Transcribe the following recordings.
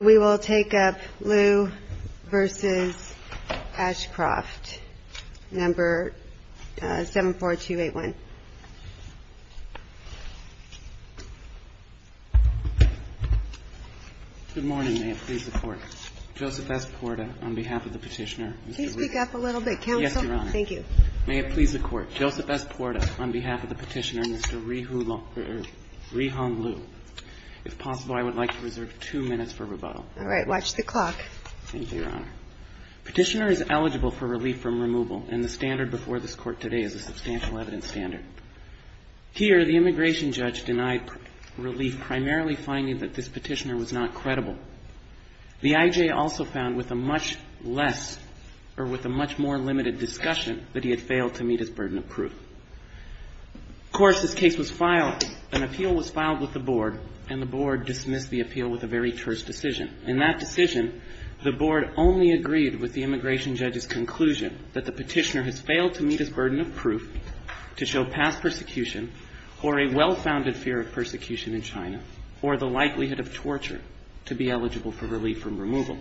We will take up Liu v. Ashcroft, No. 74281. Good morning. May it please the Court. Joseph S. Porta, on behalf of the petitioner, Mr. Liu. Please speak up a little bit, Counsel. Yes, Your Honor. Thank you. May it please the Court. Joseph S. Porta, on behalf of the petitioner, Mr. Ri Hong Liu. If possible, I would like to reserve two minutes for rebuttal. All right. Watch the clock. Thank you, Your Honor. Petitioner is eligible for relief from removal, and the standard before this Court today is a substantial evidence standard. Here, the immigration judge denied relief, primarily finding that this petitioner was not credible. The I.J. also found with a much less or with a much more limited discussion that he had failed to meet his burden of proof. Of course, this case was filed, an appeal was filed with the Board, and the Board dismissed the appeal with a very terse decision. In that decision, the Board only agreed with the immigration judge's conclusion that the petitioner has failed to meet his burden of proof to show past persecution or a well-founded fear of persecution in China or the likelihood of torture to be eligible for relief from removal.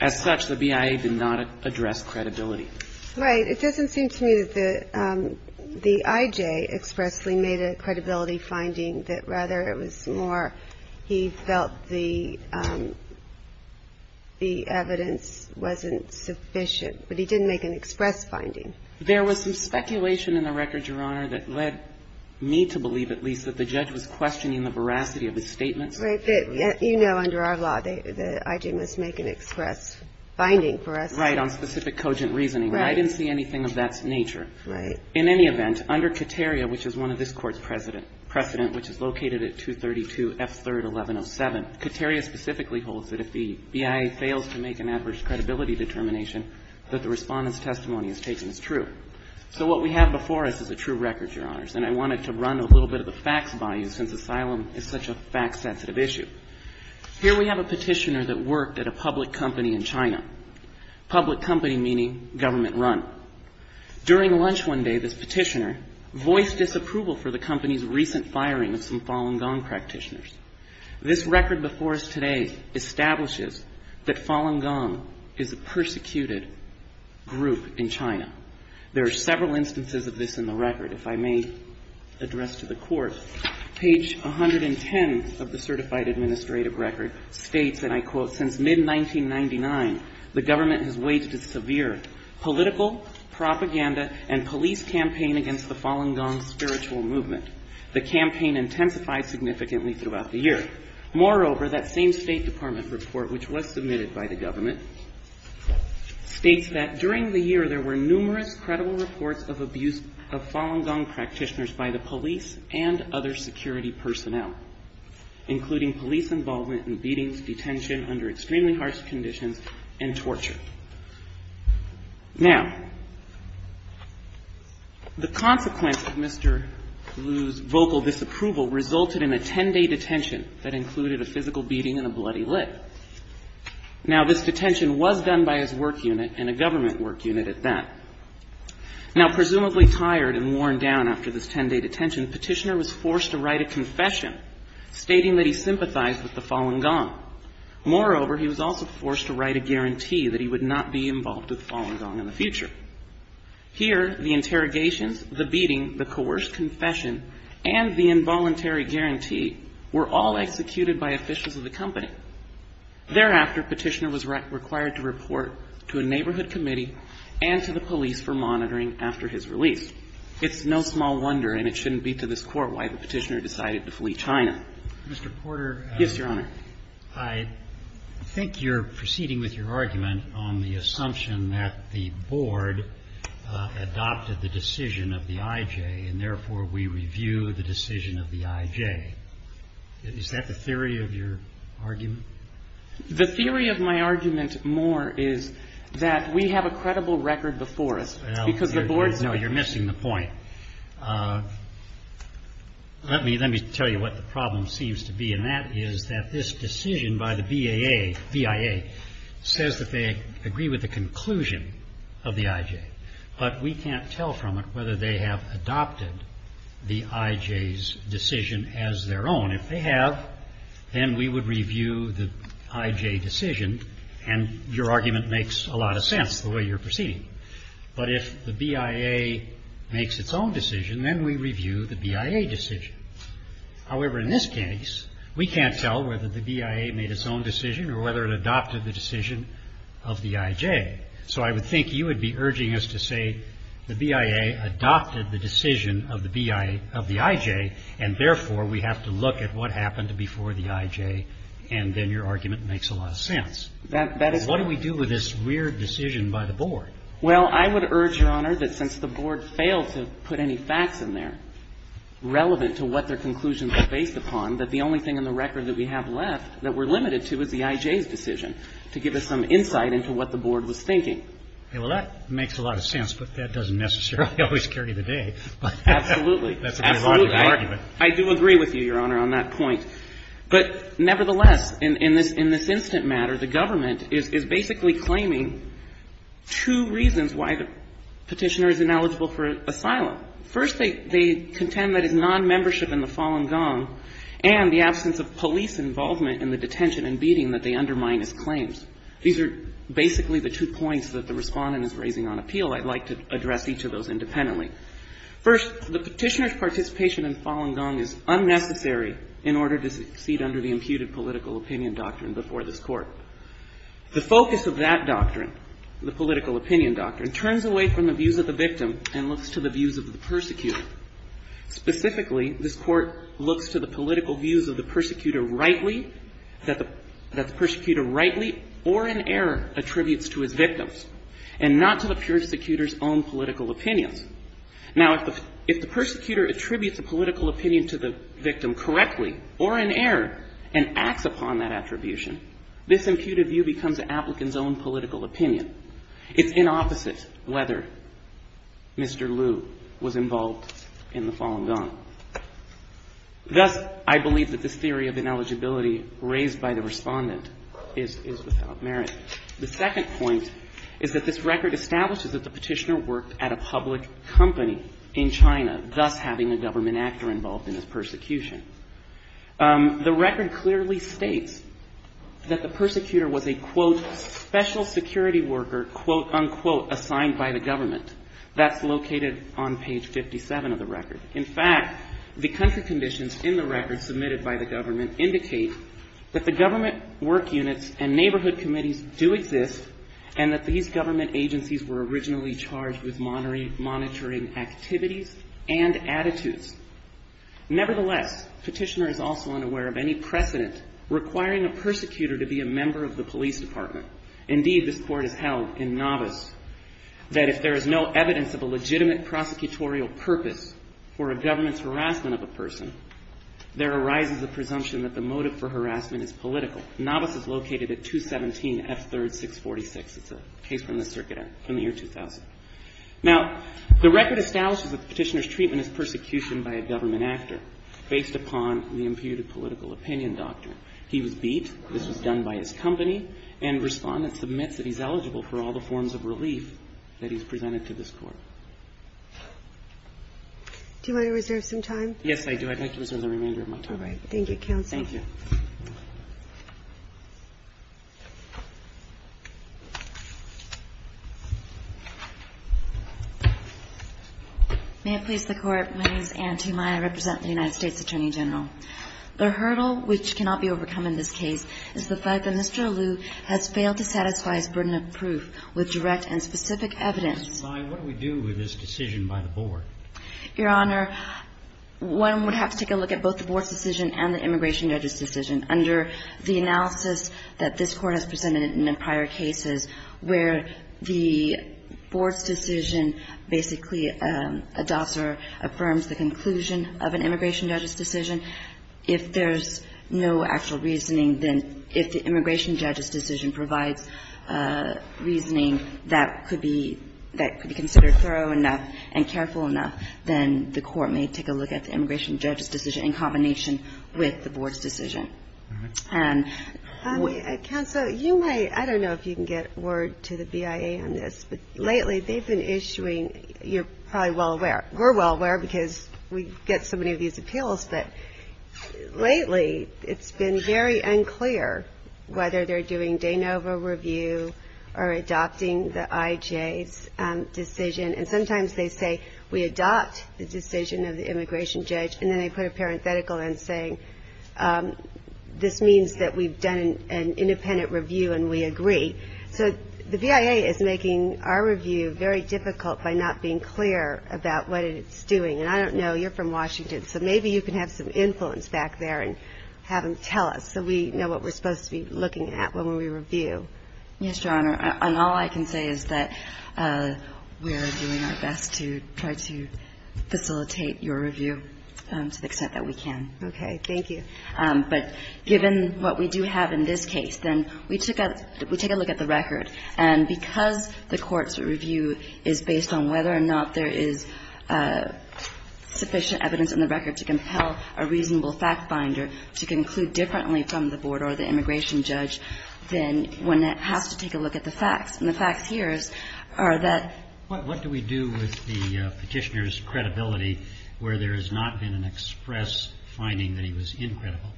As such, the BIA did not address credibility. Right. It doesn't seem to me that the I.J. expressly made a credibility finding that rather it was more he felt the evidence wasn't sufficient, but he didn't make an express finding. There was some speculation in the record, Your Honor, that led me to believe at least that the judge was questioning the veracity of his statements. Right. You know under our law, the I.J. must make an express finding for us. Right. On specific cogent reasoning. Right. I didn't see anything of that nature. Right. In any event, under Kateria, which is one of this Court's precedent, which is located at 232 F. 3rd, 1107, Kateria specifically holds that if the BIA fails to make an adverse credibility determination, that the Respondent's testimony is taken as true. So what we have before us is a true record, Your Honors, and I wanted to run a little bit of the facts by you since asylum is such a fact-sensitive issue. Here we have a petitioner that worked at a public company in China. Public company meaning government run. During lunch one day, this petitioner voiced disapproval for the company's recent firing of some Falun Gong practitioners. This record before us today establishes that Falun Gong is a persecuted group in China. There are several instances of this in the record, if I may address to the Court. Page 110 of the Certified Administrative Record states, and I quote, since mid-1999, the government has waged a severe political, propaganda, and police campaign against the Falun Gong spiritual movement. The campaign intensified significantly throughout the year. Moreover, that same State Department report, which was submitted by the government, states that during the year there were numerous credible reports of abuse of Falun Gong practitioners by the police and other security personnel, including police involvement in beatings, detention under extremely harsh conditions, and torture. Now, the consequence of Mr. Liu's vocal disapproval resulted in a ten-day detention that included a physical beating and a bloody lip. Now, this detention was done by his work unit and a government work unit at that. Now, presumably tired and worn down after this ten-day detention, Petitioner was forced to write a confession stating that he sympathized with the Falun Gong. Moreover, he was also forced to write a guarantee that he would not be involved with Falun Gong in the future. Here, the interrogations, the beating, the coerced confession, and the involuntary guarantee were all executed by officials of the company. Thereafter, Petitioner was required to report to a neighborhood committee and to the police for monitoring after his release. It's no small wonder, and it shouldn't be to this court, why the Petitioner decided to flee China. Mr. Porter. Yes, Your Honor. I think you're proceeding with your argument on the assumption that the board adopted the decision of the IJ, and therefore, we review the decision of the IJ. Is that the theory of your argument? The theory of my argument more is that we have a credible record before us. It's because the board's not. No, you're missing the point. Let me tell you what the problem seems to be. And that is that this decision by the BIA says that they agree with the conclusion of the IJ, but we can't tell from it whether they have adopted the IJ's decision as their own. If they have, then we would review the IJ decision. And your argument makes a lot of sense, the way you're proceeding. But if the BIA makes its own decision, then we review the BIA decision. However, in this case, we can't tell whether the BIA made its own decision or whether it adopted the decision of the IJ. So I would think you would be urging us to say the BIA adopted the decision of the IJ, and therefore, we have to look at what happened before the IJ, and then your argument makes a lot of sense. What do we do with this weird decision by the board? Well, I would urge, Your Honor, that since the board failed to put any facts in there relevant to what their conclusions are based upon, that the only thing in the record that we have left that we're limited to is the IJ's decision to give us some insight into what the board was thinking. Well, that makes a lot of sense, but that doesn't necessarily always carry the day. Absolutely. That's a good argument. Absolutely. I do agree with you, Your Honor, on that point. But nevertheless, in this instant matter, the government is basically claiming two reasons why the Petitioner is ineligible for asylum. First, they contend that it's nonmembership in the Falun Gong and the absence of police involvement in the detention and beating that they undermine his claims. These are basically the two points that the Respondent is raising on appeal. I'd like to address each of those independently. First, the Petitioner's participation in Falun Gong is unnecessary in order to succeed under the imputed political opinion doctrine before this Court. The focus of that doctrine, the political opinion doctrine, turns away from the views of the victim and looks to the views of the persecutor. Specifically, this Court looks to the political views of the persecutor rightly, that the persecutor rightly or in error attributes to his victims and not to the persecutor's own political opinions. Now, if the persecutor attributes a political opinion to the victim correctly or in error and acts upon that attribution, this imputed view becomes the applicant's own political opinion. It's inopposite whether Mr. Liu was involved in the Falun Gong. Thus, I believe that this theory of ineligibility raised by the Respondent is without merit. The second point is that this record establishes that the Petitioner worked at a public company in China, thus having a government actor involved in his persecution. The record clearly states that the persecutor was a, quote, special security worker, quote, unquote, assigned by the government. That's located on page 57 of the record. In fact, the country conditions in the record submitted by the government indicate that the government work units and neighborhood committees do exist and that these government agencies were originally charged with monitoring activities and attitudes. Nevertheless, Petitioner is also unaware of any precedent requiring a persecutor to be a member of the police department. Indeed, this court has held in novice that if there is no evidence of a legitimate prosecutorial purpose for a government's harassment of a person, there arises a possibility that the perpetrator could be a member of the police department. In fact, this court has held in novice that if there is no evidence of a legitimate that the perpetrator could be a member of the police department. Now, the record states that Petitioner's treatment of harassment is political. Novice is located at 217 F. 3rd, 646. It's a case from the circuit in the year 2000. Now, the record establishes that Petitioner's treatment is persecution by a government actor based upon the imputed political opinion doctrine. He was beat. This was done by his company, and Respondent submits that he's eligible for all the forms of relief that he's presented to this Court. Do you want to reserve some time? Yes, I do. I'd like to reserve the remainder of my time. All right. Thank you, Counsel. Thank you. May it please the Court, my name is Anne Tumeya, I represent the United States Attorney General. The hurdle which cannot be overcome in this case is the fact that Mr. Alou has failed to satisfy his burden of proof with direct and specific evidence. Ms. Tumeya, what do we do with this decision by the Board? Your Honor, one would have to take a look at both the Board's decision and the Immigration Judges' decision. Under the analysis that this Court has presented in the prior cases where the Board's decision basically adopts or affirms the conclusion of an Immigration Judges' decision, if there's no actual reasoning, then if the Immigration Judges' decision provides reasoning that could be considered thorough enough and careful enough, then the Court may take a look at the Immigration Judges' decision in combination with the Board's decision. Counsel, you may, I don't know if you can get word to the BIA on this, but lately they've been issuing, you're probably well aware, we're well aware because we get so many of these appeals, but lately it's been very unclear whether they're doing de novo review or adopting the IJ's decision. And sometimes they say we adopt the decision of the Immigration Judge and then they put a parenthetical in saying this means that we've done an independent review and we agree. So the BIA is making our review very difficult by not being clear about what it's doing. And I don't know, you're from Washington, so maybe you can have some influence back there and have them tell us so we know what we're supposed to be looking at when we review. Yes, Your Honor. And all I can say is that we're doing our best to try to facilitate your review to the extent that we can. Okay. Thank you. But given what we do have in this case, then we took a, we take a look at the record. And because the Court's review is based on whether or not there is sufficient evidence in the record to compel a reasonable fact-finder to conclude differently from the Board or the Immigration Judge, then one has to take a look at the facts. And the facts here are that what do we do with the Petitioner's credibility where there has not been an express finding that he was incredible?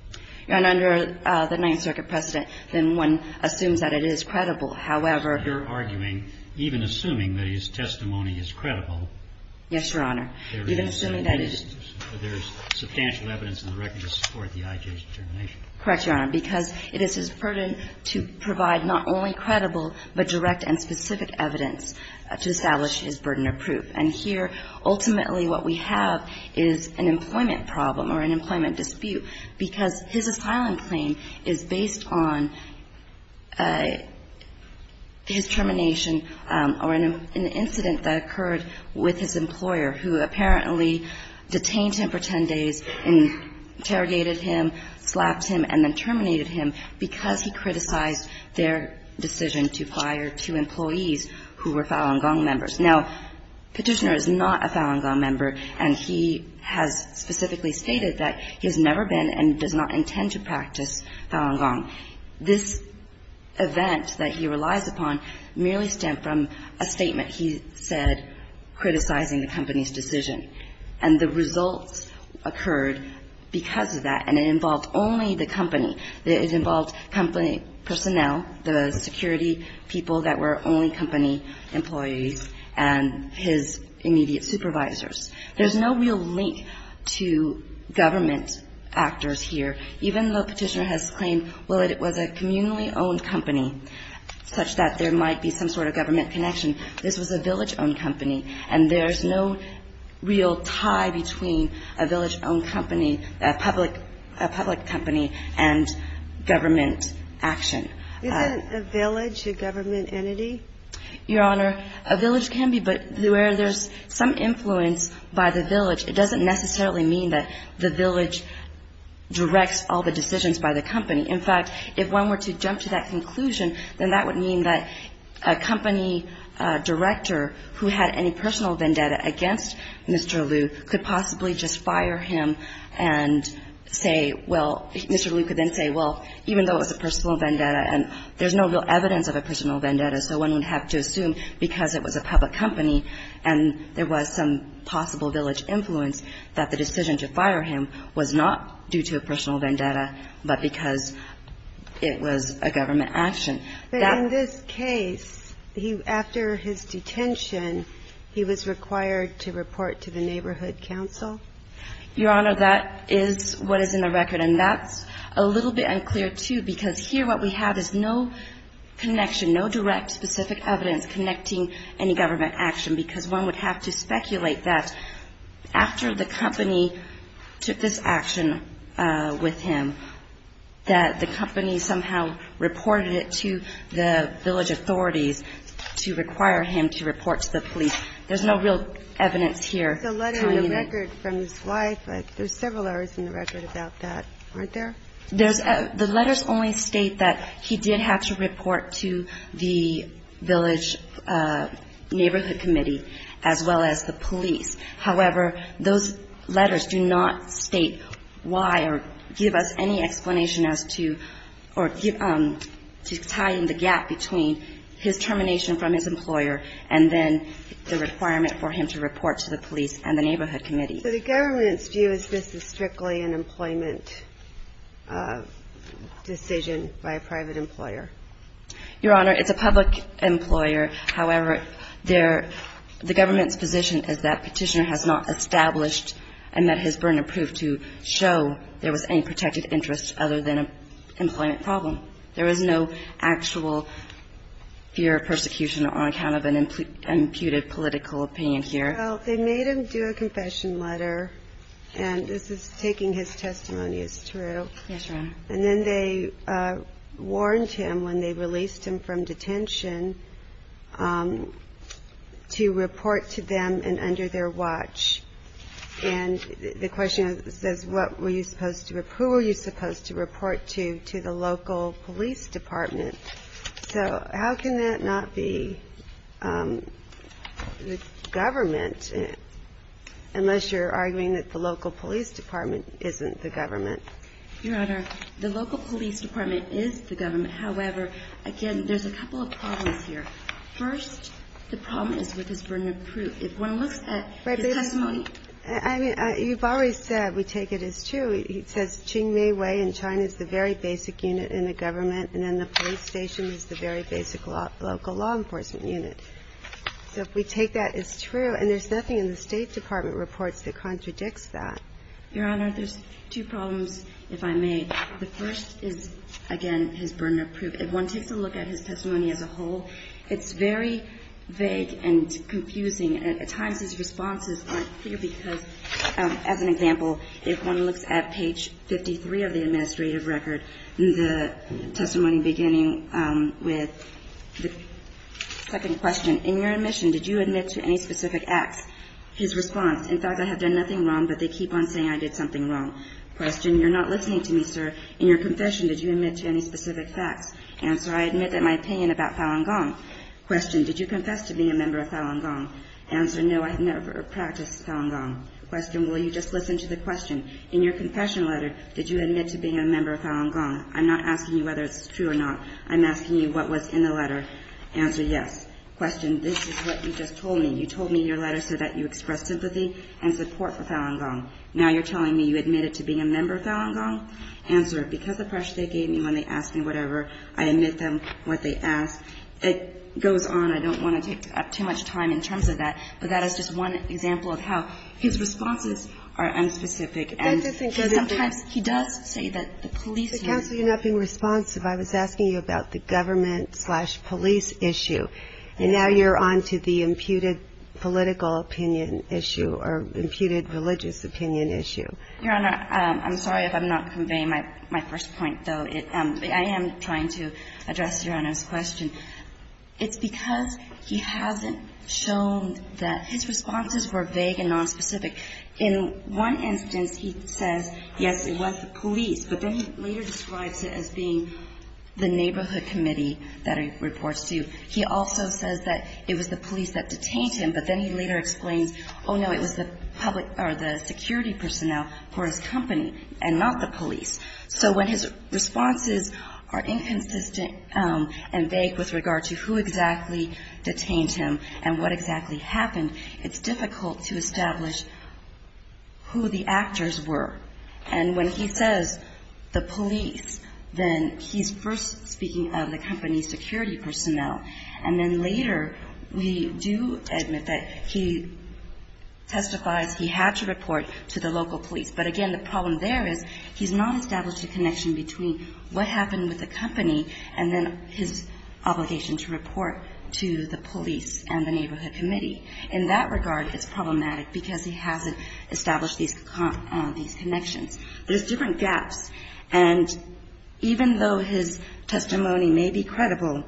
And under the Ninth Circuit precedent, then one assumes that it is credible. However, you're arguing, even assuming that his testimony is credible. Yes, Your Honor. Even assuming that there is substantial evidence in the record to support the IJ's determination. Correct, Your Honor, because it is his burden to provide not only credible but direct and specific evidence to establish his burden of proof. And here, ultimately, what we have is an employment problem or an employment dispute because his asylum claim is based on his termination or an incident that occurred with his employer who apparently detained him for ten days and interrogated him, slapped him, and then terminated him because he criticized their decision to fire two employees who were Falun Gong members. Now, Petitioner is not a Falun Gong member, and he has specifically stated that he has never been and does not intend to practice Falun Gong. This event that he relies upon merely stemmed from a statement he said criticizing the company's decision. And the results occurred because of that, and it involved only the company. It involved company personnel, the security people that were only company employees, and his immediate supervisors. There's no real link to government actors here, even though Petitioner has claimed, well, it was a communally owned company such that there might be some sort of government connection. This was a village-owned company, and there's no real tie between a village-owned company, a public company, and government action. Isn't a village a government entity? Your Honor, a village can be, but where there's some influence by the village, it doesn't necessarily mean that the village directs all the decisions by the company. In fact, if one were to jump to that conclusion, then that would mean that a company director who had any personal vendetta against Mr. Liu could possibly just fire him and say, well, Mr. Liu could then say, well, even though it was a personal vendetta and there's no real evidence of a personal vendetta, so one would have to assume because it was a public company and there was some possible village influence that the decision to fire him was not due to a personal vendetta, but because it was a government action. But in this case, after his detention, he was required to report to the Neighborhood Council? Your Honor, that is what is in the record, and that's a little bit unclear, too, because here what we have is no connection, no direct specific evidence connecting any government action, because one would have to speculate that after the company took this action with him, that the company somehow reported it to the village authorities to require him to report to the police. There's no real evidence here. The letter in the record from his wife, there's several letters in the record about that, aren't there? The letters only state that he did have to report to the village neighborhood committee as well as the police. However, those letters do not state why or give us any explanation as to or to tie in the gap between his termination from his employer and then the requirement for him to report to the police and the neighborhood committee. So the government's view is this is strictly an employment decision by a private employer? Your Honor, it's a public employer. However, the government's position is that Petitioner has not established and that his burden proved to show there was any protected interest other than an employment problem. There was no actual fear of persecution on account of an imputed political opinion here. Well, they made him do a confession letter, and this is taking his testimony as true. Yes, Your Honor. And then they warned him when they released him from detention to report to them and under their watch. And the question says, what were you supposed to, who were you supposed to report to, to the local police department? So how can that not be the government, unless you're arguing that the local police department isn't the government? Your Honor, the local police department is the government. However, again, there's a couple of problems here. First, the problem is with his burden of proof. If one looks at his testimony. I mean, you've already said we take it as true. He says Qingmeiwei in China is the very basic unit in the government, and then the police station is the very basic local law enforcement unit. So if we take that as true, and there's nothing in the State Department reports that contradicts that. Your Honor, there's two problems, if I may. The first is, again, his burden of proof. If one takes a look at his testimony as a whole, it's very vague and confusing. At times his responses aren't clear because, as an example, if one looks at page 53 of the administrative record, the testimony beginning with the second question, in your admission, did you admit to any specific acts? His response, in fact, I have done nothing wrong, but they keep on saying I did something wrong. Question, you're not listening to me, sir. In your confession, did you admit to any specific facts? Answer, I admit that my opinion about Falun Gong. Question, did you confess to being a member of Falun Gong? Answer, no, I have never practiced Falun Gong. Question, will you just listen to the question. In your confession letter, did you admit to being a member of Falun Gong? I'm not asking you whether it's true or not. I'm asking you what was in the letter. Answer, yes. Question, this is what you just told me. You told me in your letter so that you express sympathy and support for Falun Gong. Now you're telling me you admitted to being a member of Falun Gong? Answer, because of pressure they gave me when they asked me whatever, I admit them what they asked. It goes on. I don't want to take up too much time in terms of that, but that is just one example of how his responses are unspecific. And sometimes he does say that the police use him. Counsel, you're not being responsive. I was asking you about the government-slash-police issue, and now you're on to the imputed political opinion issue or imputed religious opinion issue. Your Honor, I'm sorry if I'm not conveying my first point, though. I am trying to address Your Honor's question. It's because he hasn't shown that his responses were vague and nonspecific. In one instance, he says, yes, it was the police, but then he later describes it as being the neighborhood committee that he reports to. He also says that it was the police that detained him, but then he later explains, oh, no, it was the public or the security personnel for his company and not the police. So when his responses are inconsistent and vague with regard to who exactly detained him and what exactly happened, it's difficult to establish who the actors were. And when he says the police, then he's first speaking of the company's security personnel, and then later we do admit that he testifies he had to report to the local police. But again, the problem there is he's not established a connection between what happened with the company and then his obligation to report to the police and the neighborhood committee. In that regard, it's problematic because he hasn't established these connections. There's different gaps. And even though his testimony may be credible,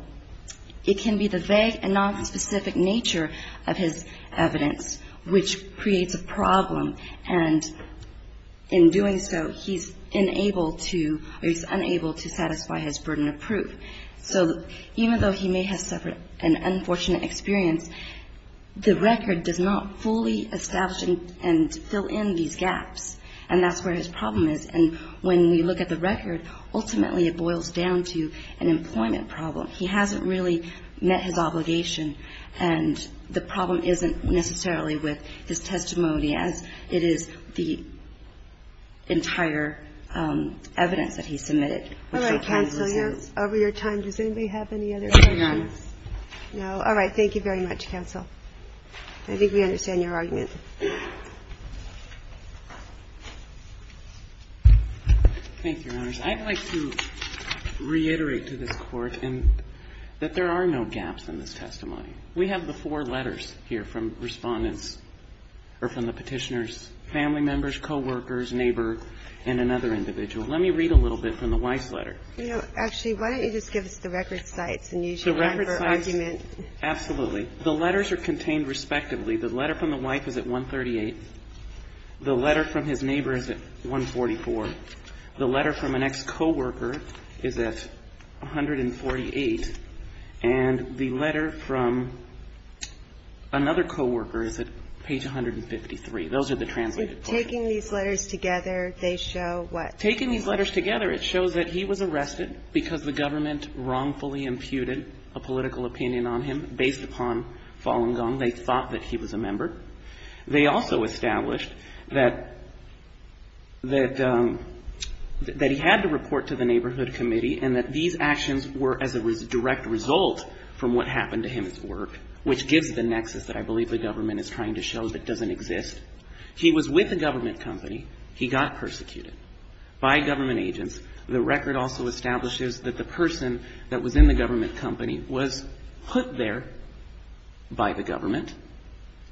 it can be the vague and nonspecific nature of his evidence which creates a problem. And in doing so, he's unable to or he's unable to satisfy his burden of proof. So even though he may have suffered an unfortunate experience, the record does not fully establish and fill in these gaps, and that's where his problem is. And when we look at the record, ultimately it boils down to an employment problem. He hasn't really met his obligation, and the problem isn't necessarily with his employment. It is the entire evidence that he submitted. All right. Counsel, over your time, does anybody have any other questions? No. All right. Thank you very much, counsel. I think we understand your argument. Thank you, Your Honors. I'd like to reiterate to this Court that there are no gaps in this testimony. We have the four letters here from Respondents, or from the Petitioners, family members, coworkers, neighbor, and another individual. Let me read a little bit from the wife's letter. Actually, why don't you just give us the record cites and use your time for argument. The record cites, absolutely. The letters are contained respectively. The letter from the wife is at 138. The letter from his neighbor is at 144. The letter from an ex-coworker is at 148. And the letter from another coworker is at page 153. Those are the translated portions. Taking these letters together, they show what? Taking these letters together, it shows that he was arrested because the government wrongfully imputed a political opinion on him based upon Falun Gong. They thought that he was a member. They also established that he had to report to the Neighborhood Committee and that these actions were as a direct result from what happened to him at work, which gives the nexus that I believe the government is trying to show that doesn't exist. He was with the government company. He got persecuted by government agents. The record also establishes that the person that was in the government company was put there by the government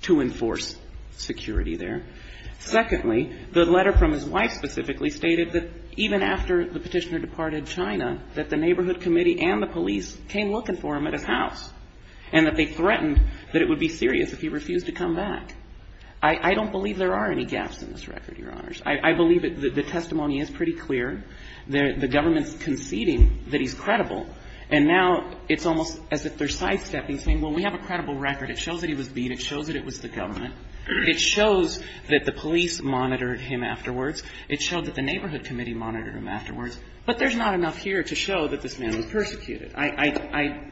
to enforce security there. Secondly, the letter from his wife specifically stated that even after the Petitioner departed China, that the Neighborhood Committee and the police came looking for him at his house, and that they threatened that it would be serious if he refused to come back. I don't believe there are any gaps in this record, Your Honors. I believe that the testimony is pretty clear. The government's conceding that he's credible. And now it's almost as if they're sidestepping, saying, well, we have a credible record. It shows that he was beat. It shows that it was the government. It shows that the police monitored him afterwards. It showed that the Neighborhood Committee monitored him afterwards. But there's not enough here to show that this man was persecuted. I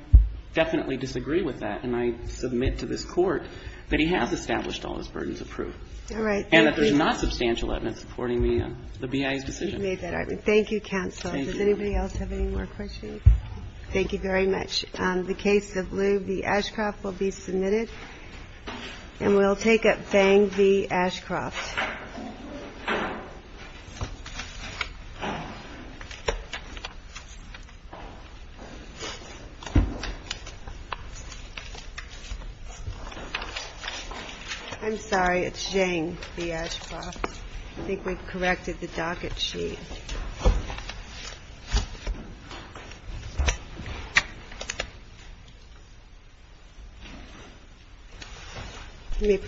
definitely disagree with that, and I submit to this Court that he has established all his burdens of proof. And that there's not substantial evidence supporting the BIA's decision. Thank you, counsel. Does anybody else have any more questions? Thank you very much. The case of Liu v. Ashcroft will be submitted. And we'll take up Fang v. Ashcroft. I'm sorry. It's Zhang v. Ashcroft. I think we've corrected the docket sheet. You may proceed.